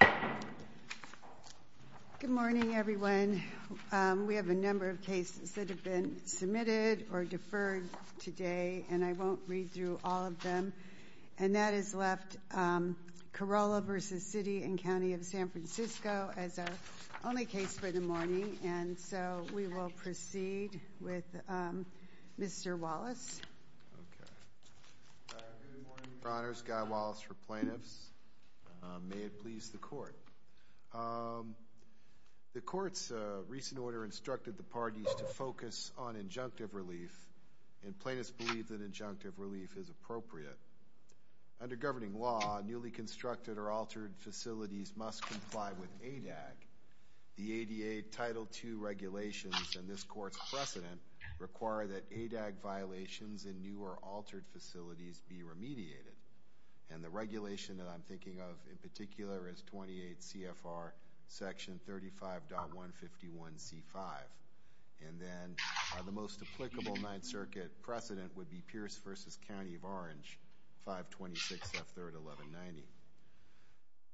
Good morning everyone. We have a number of cases that have been submitted or deferred today and I won't read through all of them and that has left Kirola v. City & County of San Francisco as our only case for the morning and so we will please the court. The court's recent order instructed the parties to focus on injunctive relief and plaintiffs believe that injunctive relief is appropriate. Under governing law newly constructed or altered facilities must comply with ADAG. The ADA Title 2 regulations and this court's precedent require that ADAG violations in new or altered facilities be remediated and the regulation that I'm thinking of in particular is 28 CFR section 35.151C5 and then the most applicable Ninth Circuit precedent would be Pierce v. County of Orange 526F3-1190.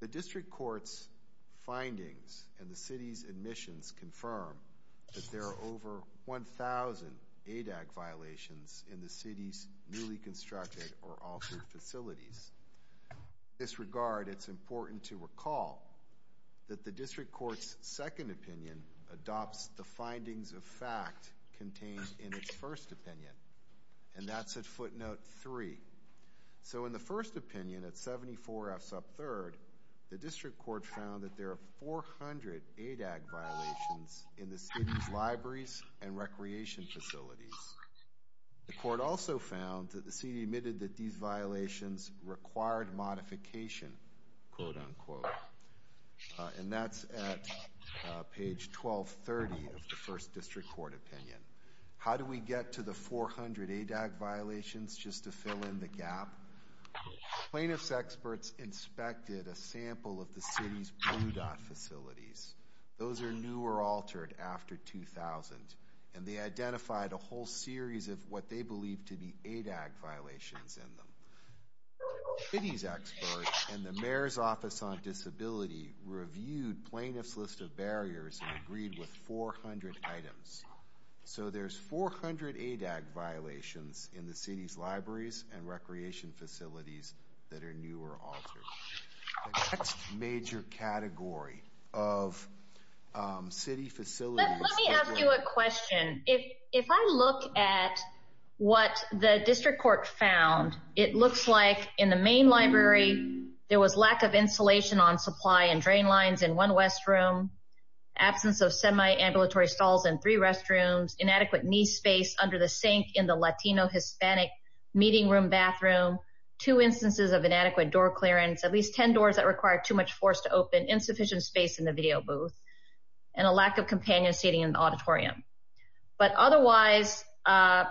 The district court's findings and the city's admissions confirm that there are over 1,000 ADAG violations in the city's newly constructed or altered facilities. In this regard it's important to recall that the district court's second opinion adopts the findings of fact contained in its first opinion and that's at footnote 3. So in the first opinion at 74 F sub 3rd the district court found that there are 400 ADAG violations in the city's libraries and recreation facilities. The required modification quote-unquote and that's at page 1230 of the first district court opinion. How do we get to the 400 ADAG violations just to fill in the gap? Plaintiffs experts inspected a sample of the city's blue dot facilities. Those are new or altered after 2000 and they identified a whole series of what city's experts and the mayor's office on disability reviewed plaintiffs list of barriers and agreed with 400 items. So there's 400 ADAG violations in the city's libraries and recreation facilities that are new or altered. That's major category of city facilities. Let me ask you a question. If I look at what the main library there was lack of insulation on supply and drain lines in one West room, absence of semi ambulatory stalls in three restrooms, inadequate knee space under the sink in the Latino Hispanic meeting room bathroom, two instances of inadequate door clearance, at least ten doors that require too much force to open, insufficient space in the video booth, and a lack of companion seating in the auditorium. But otherwise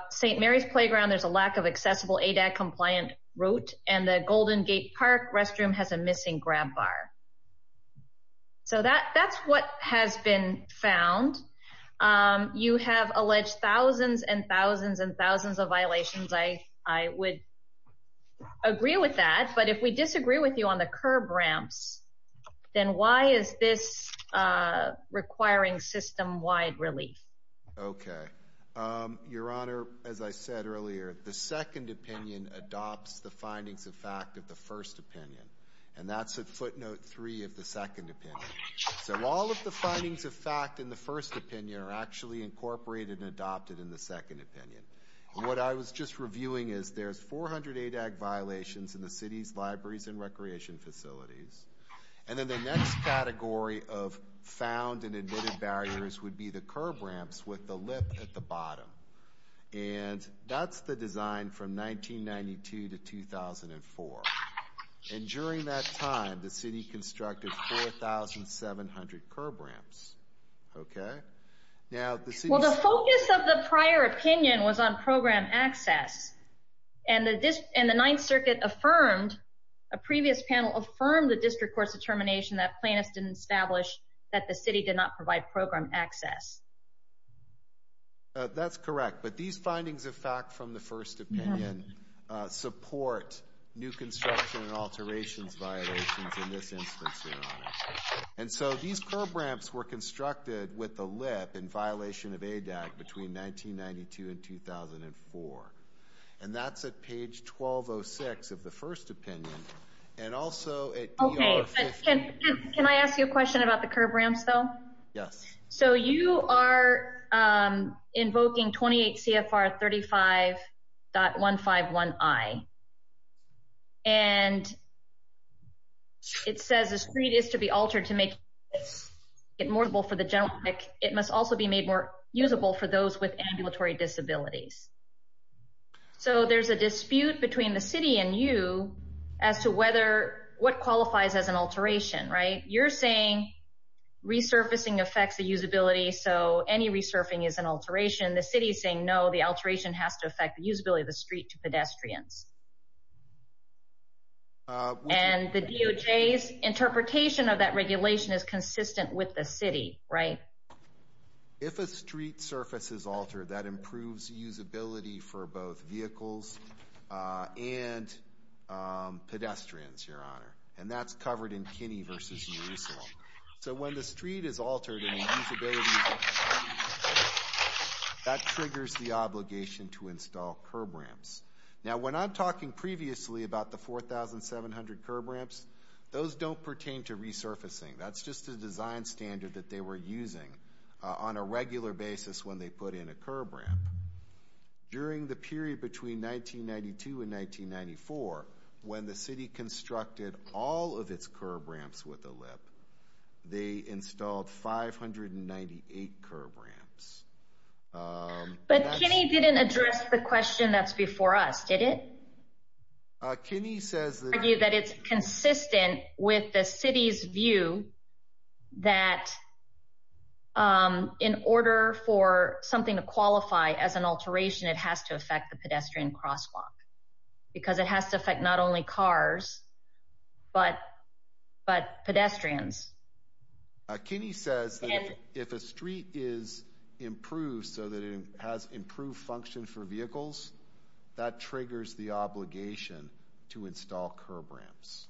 St. Mary's Playground there's a lack of a Golden Gate Park restroom has a missing grab bar. So that that's what has been found. You have alleged thousands and thousands and thousands of violations. I I would agree with that. But if we disagree with you on the curb ramps, then why is this requiring system wide relief? Okay, Your Honor, as I said earlier, the second opinion adopts the findings of fact of the first opinion. And that's a footnote three of the second opinion. So all of the findings of fact in the first opinion are actually incorporated and adopted in the second opinion. What I was just reviewing is there's 400 ADAG violations in the city's libraries and recreation facilities. And then the next category of found and admitted barriers would be the curb ramps with the lip at the bottom. And that's the design from 1992 to 2004. And during that time, the city constructed 4,700 curb ramps. Okay, now the focus of the prior opinion was on program access. And the Ninth Circuit affirmed, a previous panel affirmed, the district court's determination that plaintiffs didn't establish that the city did not provide program access. That's correct. But these findings of fact from the first opinion support new construction and alterations violations in this instance, Your Honor. And so these curb ramps were constructed with the lip in violation of ADAG between 1992 and 2004. And that's at page 1206 of the question about the curb ramps, though. Yes. So you are invoking 28 CFR 35.151I. And it says the street is to be altered to make it more usable for the general public. It must also be made more usable for those with ambulatory disabilities. So there's a dispute between the city and you as to what qualifies as an alteration, right? You're saying resurfacing affects the usability, so any resurfing is an alteration. The city is saying, no, the alteration has to affect the usability of the street to pedestrians. And the DOJ's interpretation of that regulation is consistent with the city, right? If a pedestrian's, Your Honor. And that's covered in Kinney v. Murisala. So when the street is altered in usability, that triggers the obligation to install curb ramps. Now, when I'm talking previously about the 4,700 curb ramps, those don't pertain to resurfacing. That's just a design standard that they were using on a regular basis when they put in a curb ramp. During the period between 1992 and 1994, when the city constructed all of its curb ramps with a lip, they installed 598 curb ramps. But Kinney didn't address the question that's before us, did it? Kinney says that it's consistent with the city's view that in order for something to qualify as an alteration, it has to affect the pedestrian crosswalk. Because it has to affect not only cars, but pedestrians. Kinney says if a street is improved so that it has improved function for vehicles, that triggers the obligation to install curb ramps.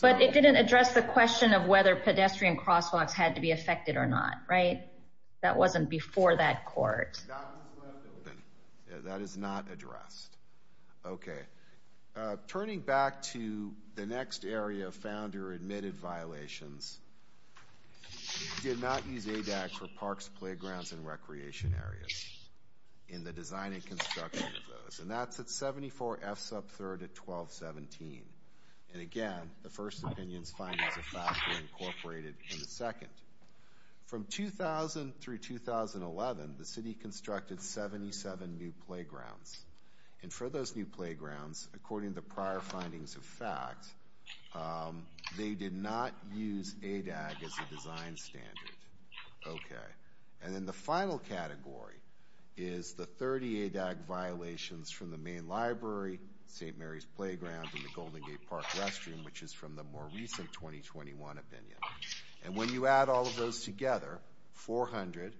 But it didn't address the question of whether pedestrian crosswalks had to be affected or not, right? That wasn't before that addressed. Okay. Turning back to the next area of Founder admitted violations, he did not use ADAC for parks, playgrounds, and recreation areas in the design and construction of those. And that's at 74 F Sub 3rd at 1217. And again, the first opinion's findings of FAFSA incorporated in the second. From 2000 through 2011, the And for those new playgrounds, according to prior findings of FACT, they did not use ADAC as a design standard. Okay. And then the final category is the 30 ADAC violations from the main library, St. Mary's Playground, and the Golden Gate Park restroom, which is from the more recent 2021 opinion. And when you add all those together, 400,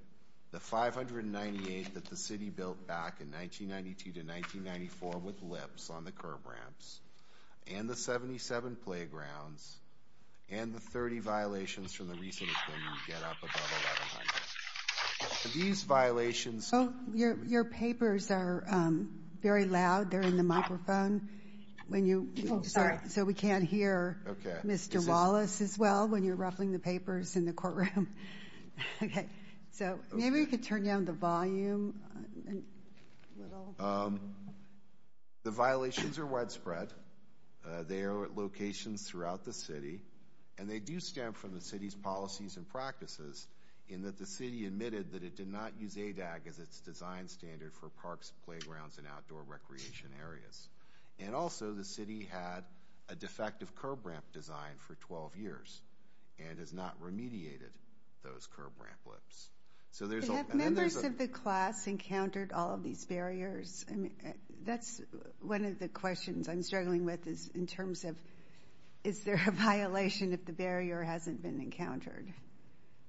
the 598 that the city built back in 1992 to 1994 with LIPS on the curb ramps, and the 77 playgrounds, and the 30 violations from the recent opinion get up above 1100. These violations... Oh, your papers are very loud. They're in the microphone when you... Oh, sorry. So we can't hear Mr. Wallace as well when you're ruffling the papers in the courtroom. Okay. So maybe we could turn down the volume a little. The violations are widespread. They are at locations throughout the city. And they do stem from the city's policies and practices in that the city admitted that it did not use ADAC as its design standard for parks, playgrounds, and outdoor recreation areas. And also, the city had a defective curb ramp design for 12 years and has not remediated those curb ramp LIPS. So there's... Have members of the class encountered all of these barriers? I mean, that's one of the questions I'm struggling with is in terms of, is there a violation if the barrier hasn't been encountered?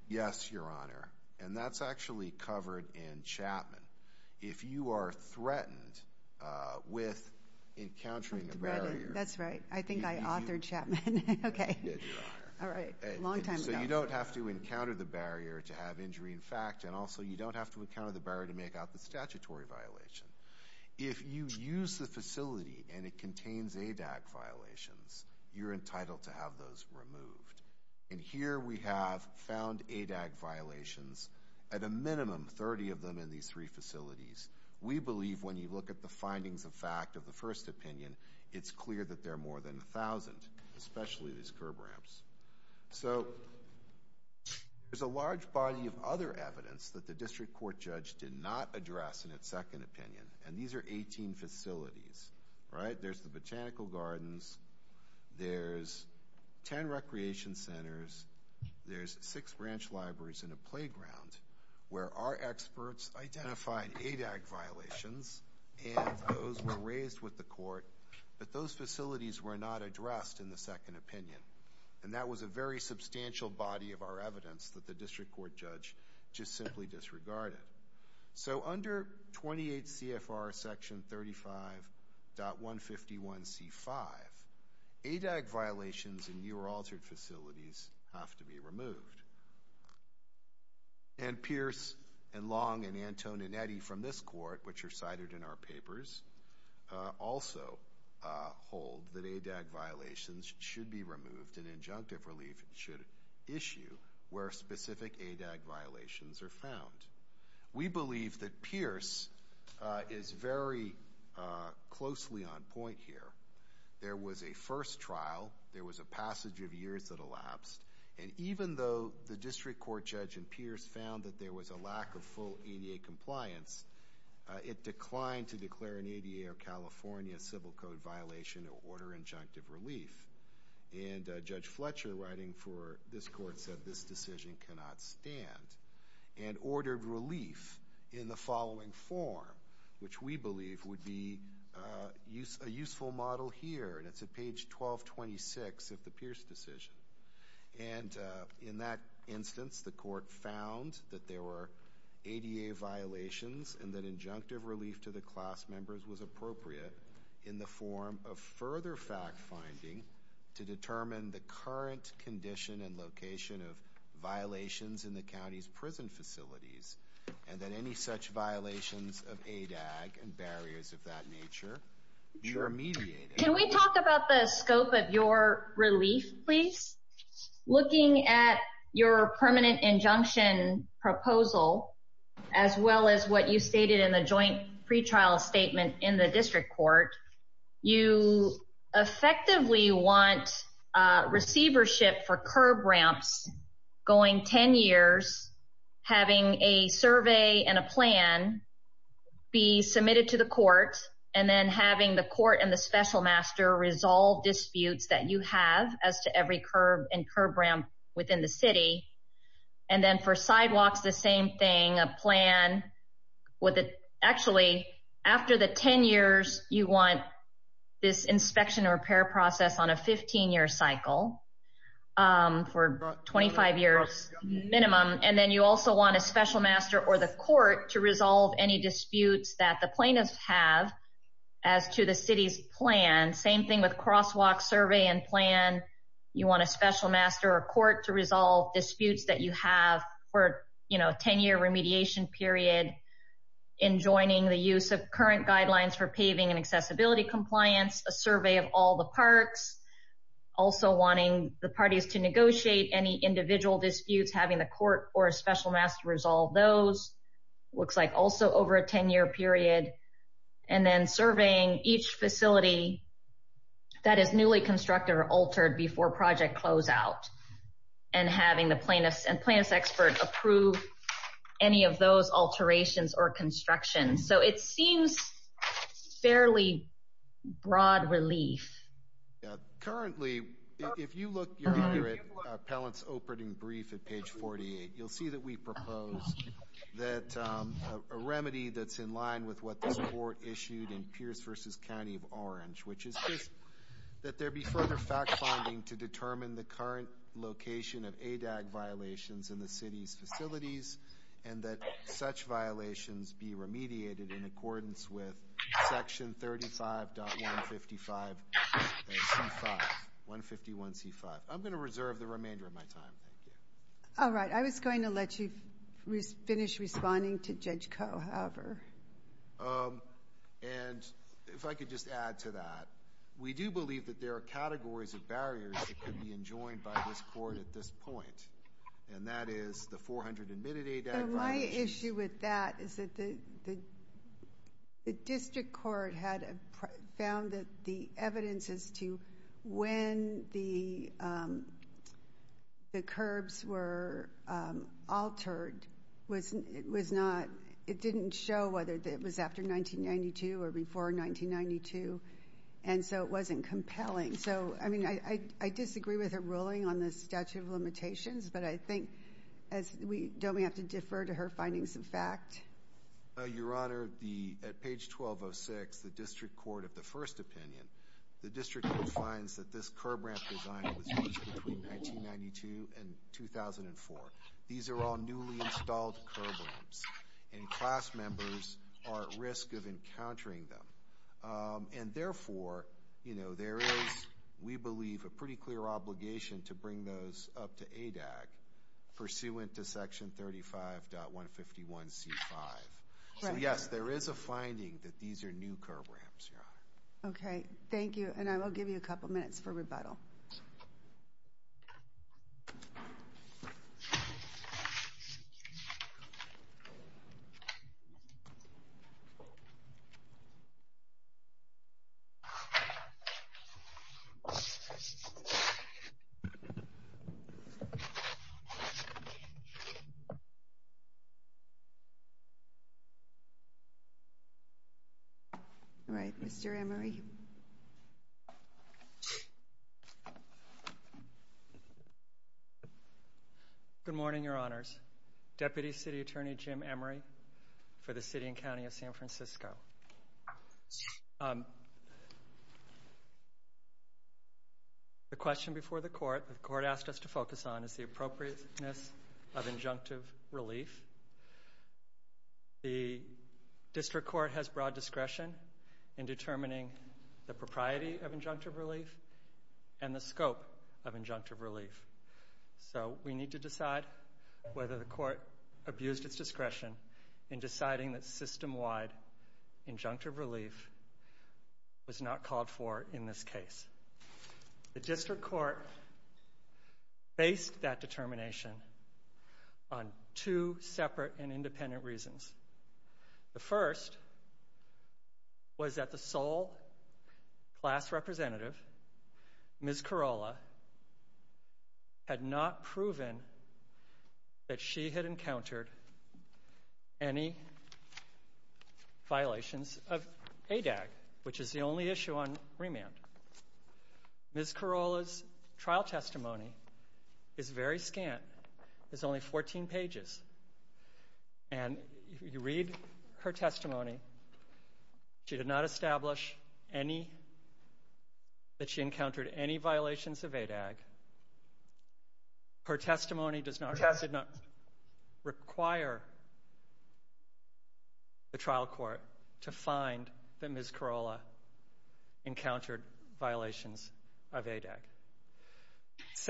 Yes, Your Honor. And that's actually covered in Chapman. If you are threatened with encountering a barrier... Okay. All right. So you don't have to encounter the barrier to have injury in fact, and also you don't have to encounter the barrier to make out the statutory violation. If you use the facility and it contains ADAC violations, you're entitled to have those removed. And here we have found ADAC violations, at a minimum 30 of them in these three facilities. We believe when you look at the findings of fact of the first opinion, it's clear that there are more than a thousand, especially these curb ramps. So there's a large body of other evidence that the district court judge did not address in its second opinion, and these are 18 facilities, right? There's the botanical gardens, there's 10 recreation centers, there's six branch libraries in a playground where our experts identified ADAC violations, and those were raised with the court, but those facilities were not addressed in the second opinion. And that was a very substantial body of our evidence that the district court judge just simply disregarded. So under 28 CFR section 35.151C5, ADAC violations in your altered facilities have to be removed. And Pierce and Long and Anton and Eddie from this court, which are cited in our papers, also hold that ADAC violations should be removed and injunctive relief should issue where specific ADAC violations are found. We believe that Pierce is very closely on point here. There was a first trial, there was a passage of years that elapsed, and even though the district court judge and Pierce found that there was a lack of full ADA compliance, it declined to declare an ADA or California civil code violation or order injunctive relief. And Judge Fletcher, writing for this court, said this decision cannot stand, and ordered relief in the following form, which we believe would be a useful model here, and it's at page 1226 of the Pierce decision. And in that instance, the court found that there were ADA violations and that injunctive relief to the class members was appropriate in the form of further fact-finding to determine the current condition and location of violations in the county's prison facilities, and that any such violations of ADAC and barriers of that nature be remediated. Can we talk about the scope of your relief, please? Looking at your permanent injunction proposal, as well as what you stated in the joint pretrial statement in the district court, you effectively want receivership for curb ramps going 10 years, having a survey and a plan be submitted to the court, and then having the court and the special master resolve disputes that you have as to every curb and curb ramp within the city. And then for sidewalks, the same thing, a plan with the... Actually, after the 10 years, you want this inspection and repair process on a 15-year cycle for 25 years minimum. And then you also want a special master or the court to resolve any disputes that the plaintiffs have as to the city's plan. Same thing with crosswalk survey and plan. You want a special master or court to resolve disputes that you have for a 10-year remediation period in joining the use of current guidelines for paving and accessibility compliance, a survey of all the parks, also wanting the parties to negotiate any individual disputes, having the court or a special master resolve those, looks like also over a 10-year period, and then surveying each facility that is newly constructed or altered before project closeout, and having the plaintiffs and plaintiff's expert approve any of those alterations or construction. So it seems fairly broad relief. Currently, if you look your honor at Appellant's opening brief at page 48, you'll see that we propose that a remedy that's in line with what this court issued in Pierce v. County of Orange, which is just that there be further fact-finding to determine the current location of ADAG violations in the city's facilities, and that such violations be remediated in accordance with section 35.151C5. I'm going to reserve the remainder of my time. All right, I was going to let you finish responding to Judge Coe, however. And if I could just add to that, we do believe that there are categories of barriers that could be enjoined by this court at this point, and that is the 400 admitted ADAG violations. My issue with that is that the district court had found that the evidence as to when the curbs were altered, it didn't show whether it was after 1992 or before 1992, and so it wasn't compelling. So, I mean, I disagree with her ruling on the statute of limitations, but I think don't we have to defer to her findings of fact? Your honor, at page 1206, the district court of the first opinion, the district court finds that this curb ramp design was used between 1992 and 2004. These are all newly installed curb ramps, and class members are at risk of encountering them. And therefore, you know, there is, we believe, a pretty clear obligation to bring those up to ADAG pursuant to section 35.151C5. So, yes, there is a finding that these are new curb ramps, your honor. Okay. Thank you, and I will give you a couple minutes for rebuttal. All right. Mr. Emery. Deputy City Attorney Jim Emery for the city and county of San Francisco. The question before the court, the court asked us to focus on is the appropriateness of injunctive relief. The district court has broad discretion in determining the propriety of injunctive relief and the scope of injunctive relief. So we need to decide whether the court abused its discretion in deciding that system-wide injunctive relief was not called for in this case. The district court based that determination on two separate and independent reasons. The first was that the sole class representative, Ms. Corolla, had not proven that she had encountered any violations of ADAG, which is the only issue on remand. Ms. Corolla's trial testimony is very scant. It's only 14 pages, and you read her testimony. She did not establish any, that she encountered any violations of ADAG. Her testimony does not require the trial court to find that Ms. Corolla encountered violations of ADAG.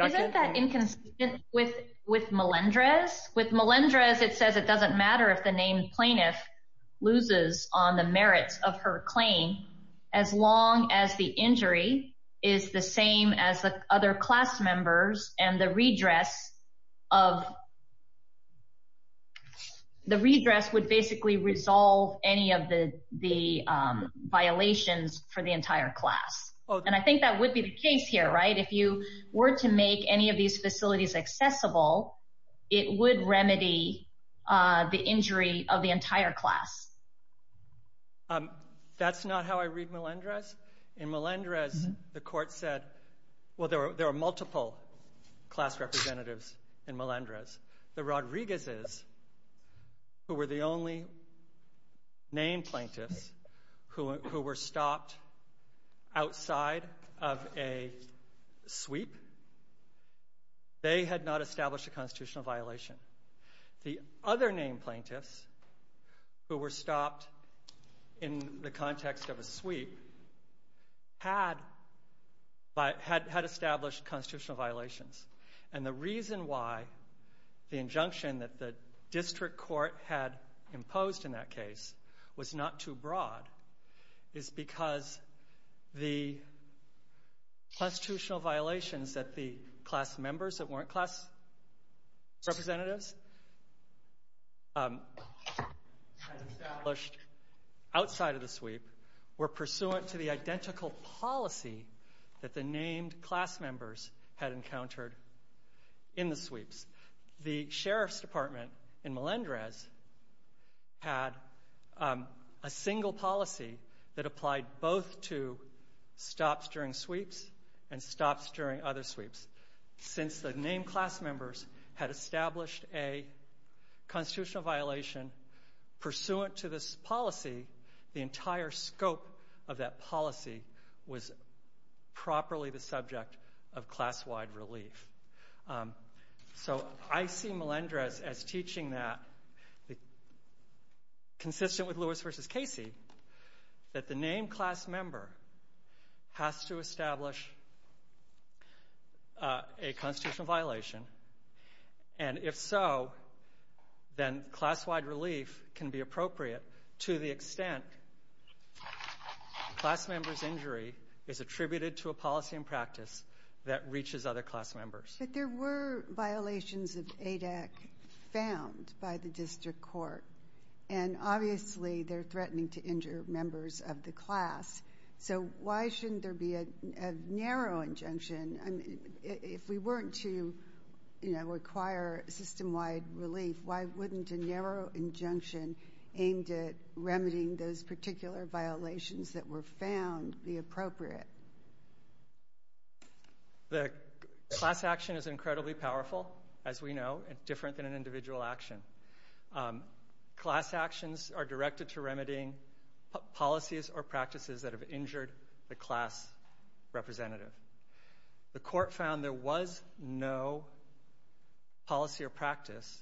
Isn't that inconsistent with Melendrez? With Melendrez, it says it doesn't matter if the named plaintiff loses on the merits of her claim, as long as the injury is the same as the other class members and the redress of, the redress would basically resolve any of the violations for the entire class. And I think that would be the case here, right? If you were to make any of these facilities accessible, it would remedy the injury of the entire class. That's not how I read Melendrez. In Melendrez, the court said, well, there are multiple class representatives in Melendrez. The Rodriguez's, who were the only named plaintiffs, who were stopped outside of a sweep, they had not established a constitutional violation. The other named plaintiffs, who were stopped in the context of a sweep, had established constitutional violations. And the reason why the injunction that the district court had imposed in that constitutional violations that the class members that weren't class representatives had established outside of the sweep were pursuant to the identical policy that the named class members had encountered in the sweeps. The sheriff's department in Melendrez had a single policy that applied both to stops during sweeps and stops during other sweeps. Since the named class members had established a constitutional violation pursuant to this policy, the entire scope of that policy was properly the subject of class-wide relief. So I see Melendrez as teaching that, consistent with Lewis v. Casey, that the named class member has to establish a constitutional violation. And if so, then class-wide relief can be appropriate to the extent class members' injury is attributed to a policy and practice that reaches other class members. But there were violations of ADAC found by the district court. And, obviously, they're threatening to injure members of the class. So why shouldn't there be a narrow injunction? If we weren't to require system-wide relief, why wouldn't a narrow injunction aimed at remedying those particular violations that were found be appropriate? The class action is incredibly powerful, as we know, and different than an individual action. Class actions are directed to remedying policies or practices that have injured the class representative. The court found there was no policy or practice,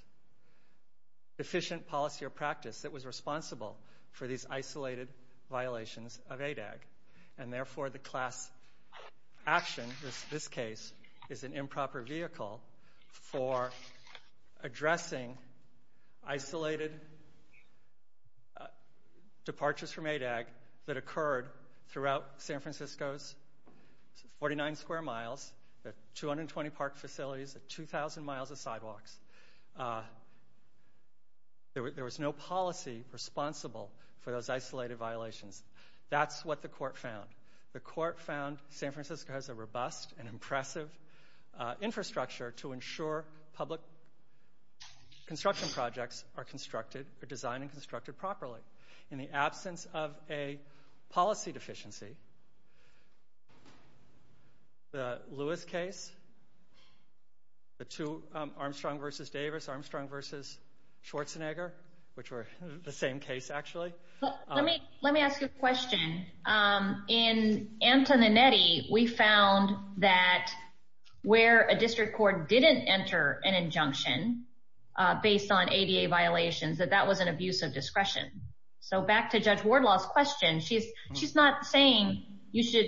efficient policy or practice, And, therefore, the class action in this case is an improper vehicle for addressing isolated departures from ADAC that occurred throughout San Francisco's 49 square miles, 220 park facilities, 2,000 miles of sidewalks. There was no policy responsible for those isolated violations. That's what the court found. The court found San Francisco has a robust and impressive infrastructure to ensure public construction projects are constructed or designed and constructed properly. In the absence of a policy deficiency, the Lewis case, Armstrong v. Davis, Armstrong v. Schwarzenegger, which were the same case, actually. Let me ask you a question. In Antoninetti, we found that where a district court didn't enter an injunction based on ADA violations, that that was an abuse of discretion. So back to Judge Wardlaw's question, she's not saying you should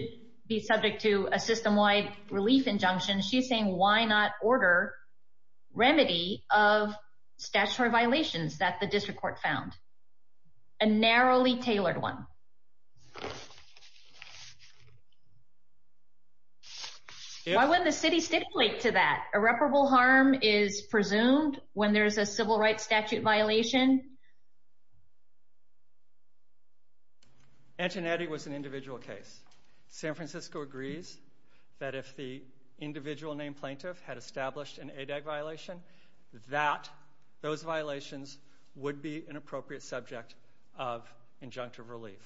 be subject to a system-wide relief injunction. She's saying why not order remedy of statutory violations that the district court found, a narrowly tailored one. Why wouldn't the city stick to that? Irreparable harm is presumed when there's a civil rights statute violation. Antoninetti was an individual case. San Francisco agrees that if the individual named plaintiff had established an ADAG violation, that those violations would be an appropriate subject of injunctive relief.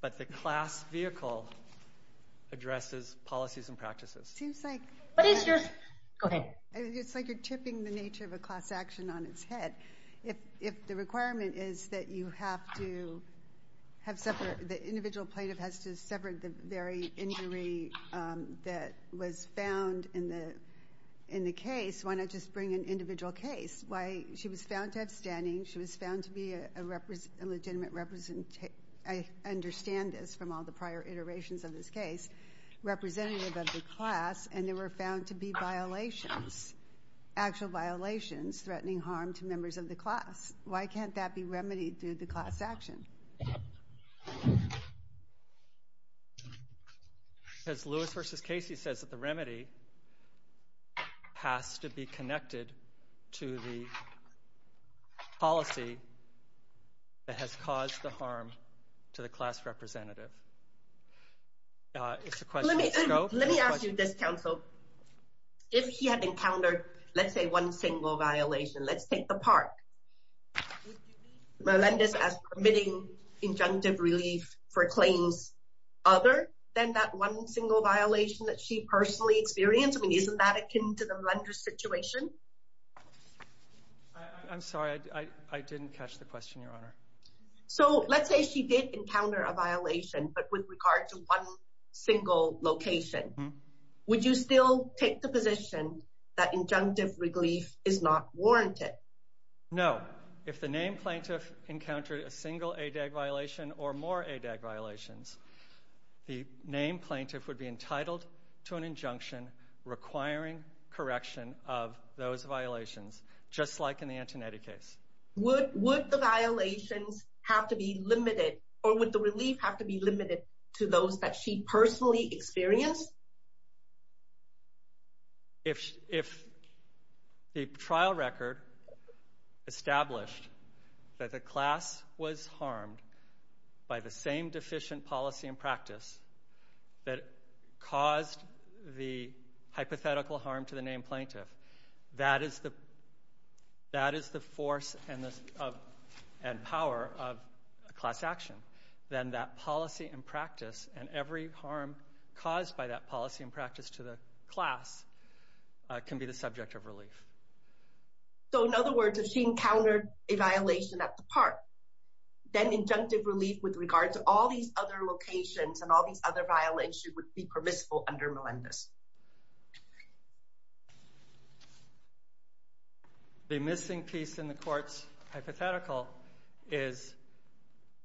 But the class vehicle addresses policies and practices. It's like you're tipping the nature of a class action on its head. If the requirement is that you have to have separate, the individual plaintiff has to separate the very injury that was found in the case, why not just bring an individual case? She was found to have standing. She was found to be a legitimate representative. I understand this from all the prior iterations of this case, representative of the class. And they were found to be violations, actual violations, threatening harm to members of the class. Why can't that be remedied through the class action? Because Lewis versus Casey says that the remedy has to be connected to the policy that has caused the harm to the class representative. It's a question of scope. Let me ask you this, counsel. If she had encountered, let's say, one single violation, let's take the park. Would you view Melendez as permitting injunctive relief for claims other than that one single violation that she personally experienced? I mean, isn't that akin to the Melendez situation? I'm sorry. I didn't catch the question, Your Honor. So let's say she did encounter a violation, but with regard to one single location. Would you still take the position that injunctive relief is not warranted? No. If the named plaintiff encountered a single ADAG violation or more ADAG violations, the named plaintiff would be entitled to an injunction requiring correction of those violations, just like in the Antonetti case. Would the violations have to be limited or would the relief have to be limited to those that she personally experienced? If the trial record established that the class was harmed by the same deficient policy and practice that caused the hypothetical harm to the named plaintiff, that is the force and power of class action. Then that policy and practice and every harm caused by that policy and practice to the class can be the subject of relief. So in other words, if she encountered a violation at the park, then injunctive relief with regard to all these other locations and all these other violations would be permissible under Melendez. The missing piece in the court's hypothetical,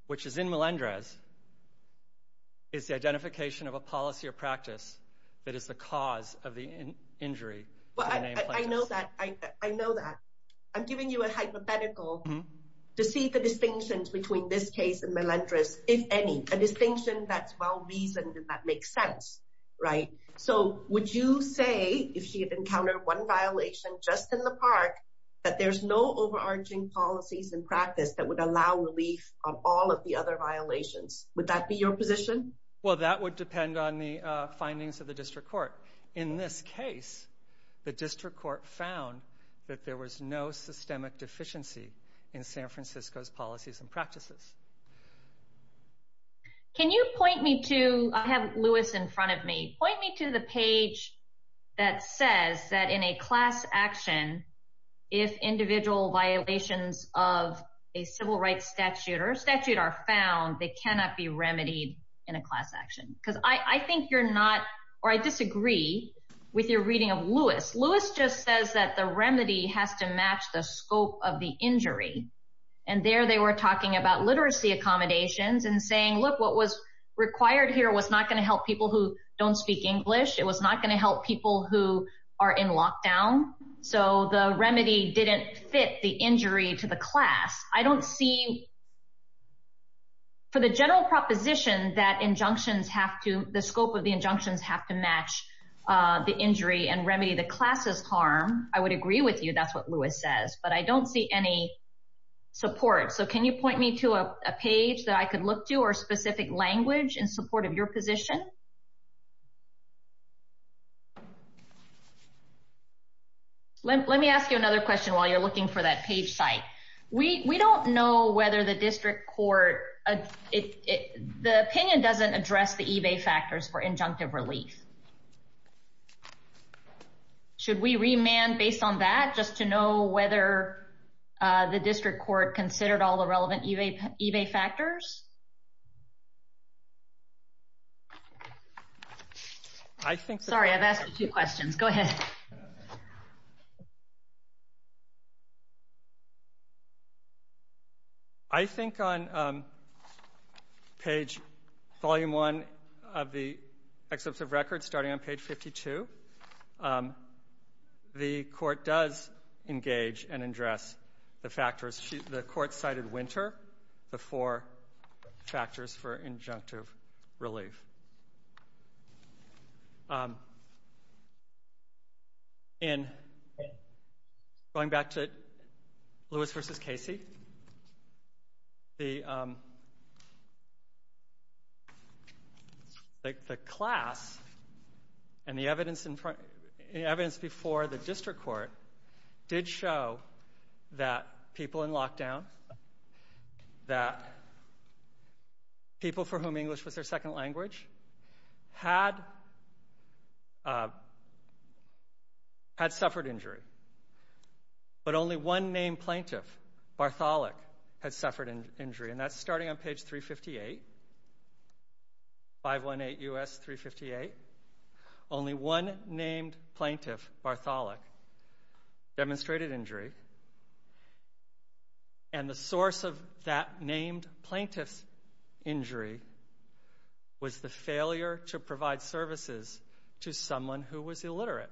which is in Melendez, is the identification of a policy or practice that is the cause of the injury to the named plaintiff. I know that. I'm giving you a hypothetical to see the distinctions between this case and Melendez, if any, a distinction that's well-reasoned and that makes sense. So would you say, if she had encountered one violation just in the park, that there's no overarching policies and practice that would allow relief on all of the other violations? Would that be your position? Well, that would depend on the findings of the district court. In this case, the district court found that there was no systemic deficiency in San Francisco's policies and practices. Can you point me to – I have Lewis in front of me. Point me to the page that says that in a class action, if individual violations of a civil rights statute or statute are found, they cannot be remedied in a class action. Because I think you're not – or I disagree with your reading of Lewis. Lewis just says that the remedy has to match the scope of the injury. And there they were talking about literacy accommodations and saying, look, what was required here was not going to help people who don't speak English. It was not going to help people who are in lockdown. So the remedy didn't fit the injury to the class. I don't see – for the general proposition that injunctions have to – the scope of the injunctions have to match the injury and remedy the class's harm, I would agree with you. That's what Lewis says. But I don't see any support. So can you point me to a page that I could look to or specific language in support of your position? Let me ask you another question while you're looking for that page site. We don't know whether the district court – the opinion doesn't address the eBay factors for injunctive relief. Should we remand based on that just to know whether the district court considered all the relevant eBay factors? Sorry, I've asked you two questions. Go ahead. Go ahead. I think on page – volume one of the excerpt of record starting on page 52, the court does engage and address the factors. The court cited winter, the four factors for injunctive relief. In – going back to Lewis v. Casey, the class and the evidence before the district court did show that people in lockdown, that people for whom English was their second language had suffered injury, but only one named plaintiff, Bartholick, had suffered injury. And that's starting on page 358, 518 U.S. 358. Only one named plaintiff, Bartholick, demonstrated injury, and the source of that named plaintiff's injury was the failure to provide services to someone who was illiterate.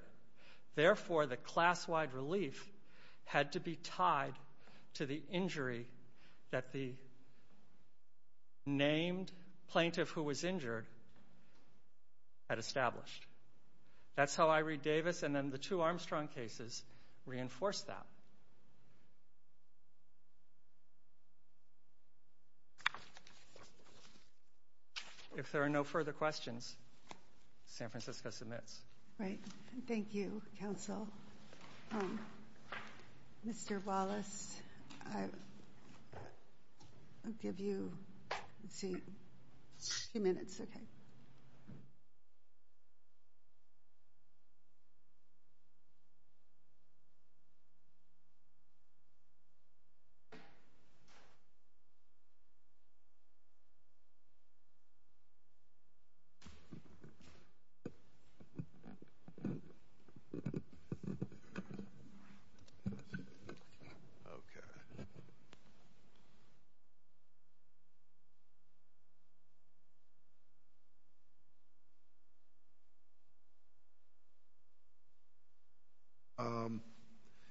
Therefore, the class-wide relief had to be tied to the injury that the named plaintiff who was injured had established. That's how I read Davis, and then the two Armstrong cases reinforce that. If there are no further questions, San Francisco submits. Right. Thank you, counsel. Mr. Wallace, I'll give you a few minutes. Okay.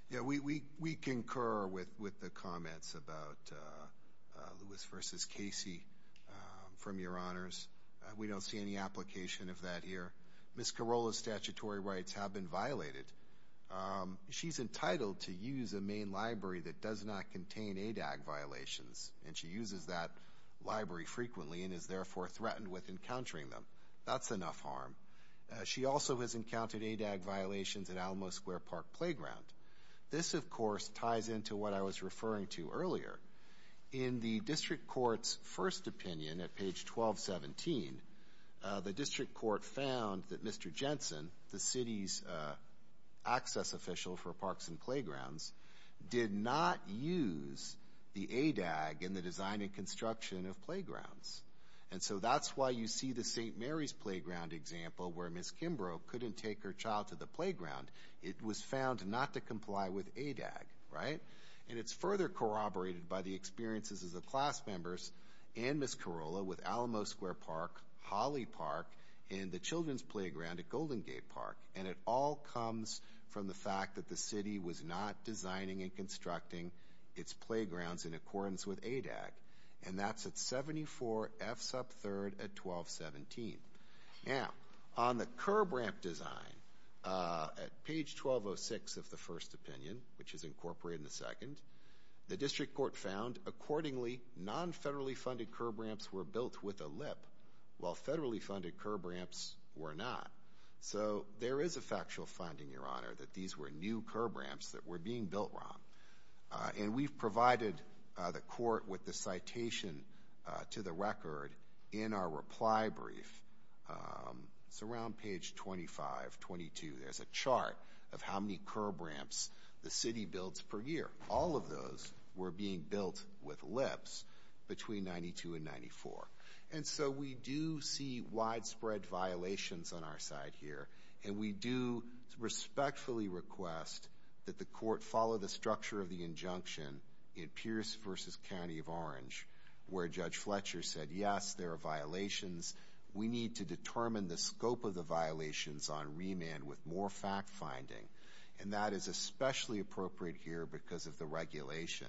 Yeah, we concur with the comments about Lewis v. Casey, from your honors. We don't see any application of that here. Ms. Corolla's statutory rights have been violated. She's entitled to use a main library that does not contain ADAG violations, and she uses that library frequently and is therefore threatened with encountering them. That's enough harm. She also has encountered ADAG violations at Alamo Square Park Playground. This, of course, ties into what I was referring to earlier. In the district court's first opinion at page 1217, the district court found that Mr. Jensen, the city's access official for parks and playgrounds, did not use the ADAG in the design and construction of playgrounds. And so that's why you see the St. Mary's Playground example where Ms. Kimbrough couldn't take her child to the playground. It was found not to comply with ADAG, right? And it's further corroborated by the experiences of the class members and Ms. Corolla with Alamo Square Park, Holly Park, and the Children's Playground at Golden Gate Park. And it all comes from the fact that the city was not designing and constructing its playgrounds in accordance with ADAG, and that's at 74 F-Sub 3rd at 1217. Now, on the curb ramp design at page 1206 of the first opinion, which is incorporated in the second, the district court found, accordingly, non-federally funded curb ramps were built with a lip while federally funded curb ramps were not. So there is a factual finding, Your Honor, that these were new curb ramps that were being built wrong. And we've provided the court with the citation to the record in our reply brief. It's around page 25, 22. There's a chart of how many curb ramps the city builds per year. All of those were being built with lips between 92 and 94. And so we do see widespread violations on our side here, and we do respectfully request that the court follow the structure of the injunction in Pierce v. County of Orange, where Judge Fletcher said, yes, there are violations. We need to determine the scope of the violations on remand with more fact-finding. And that is especially appropriate here because of the regulation,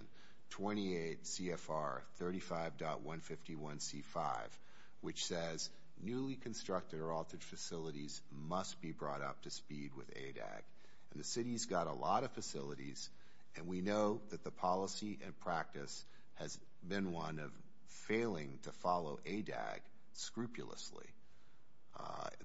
28 CFR 35.151C5, which says, newly constructed or altered facilities must be brought up to speed with ADAG. And the city's got a lot of facilities, and we know that the policy and practice has been one of failing to follow ADAG scrupulously.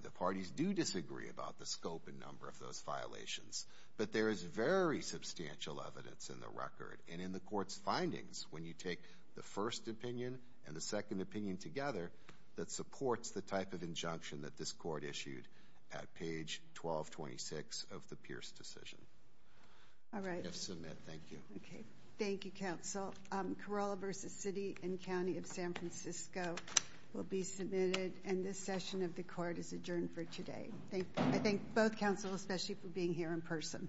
The parties do disagree about the scope and number of those violations, but there is very substantial evidence in the record and in the court's findings when you take the first opinion and the second opinion together that supports the type of injunction that this court issued at page 1226 of the Pierce decision. All right. Yes, submit. Thank you. Okay. Thank you, counsel. Corolla v. City and County of San Francisco will be submitted, and this session of the court is adjourned for today. I thank both counsel, especially for being here in person.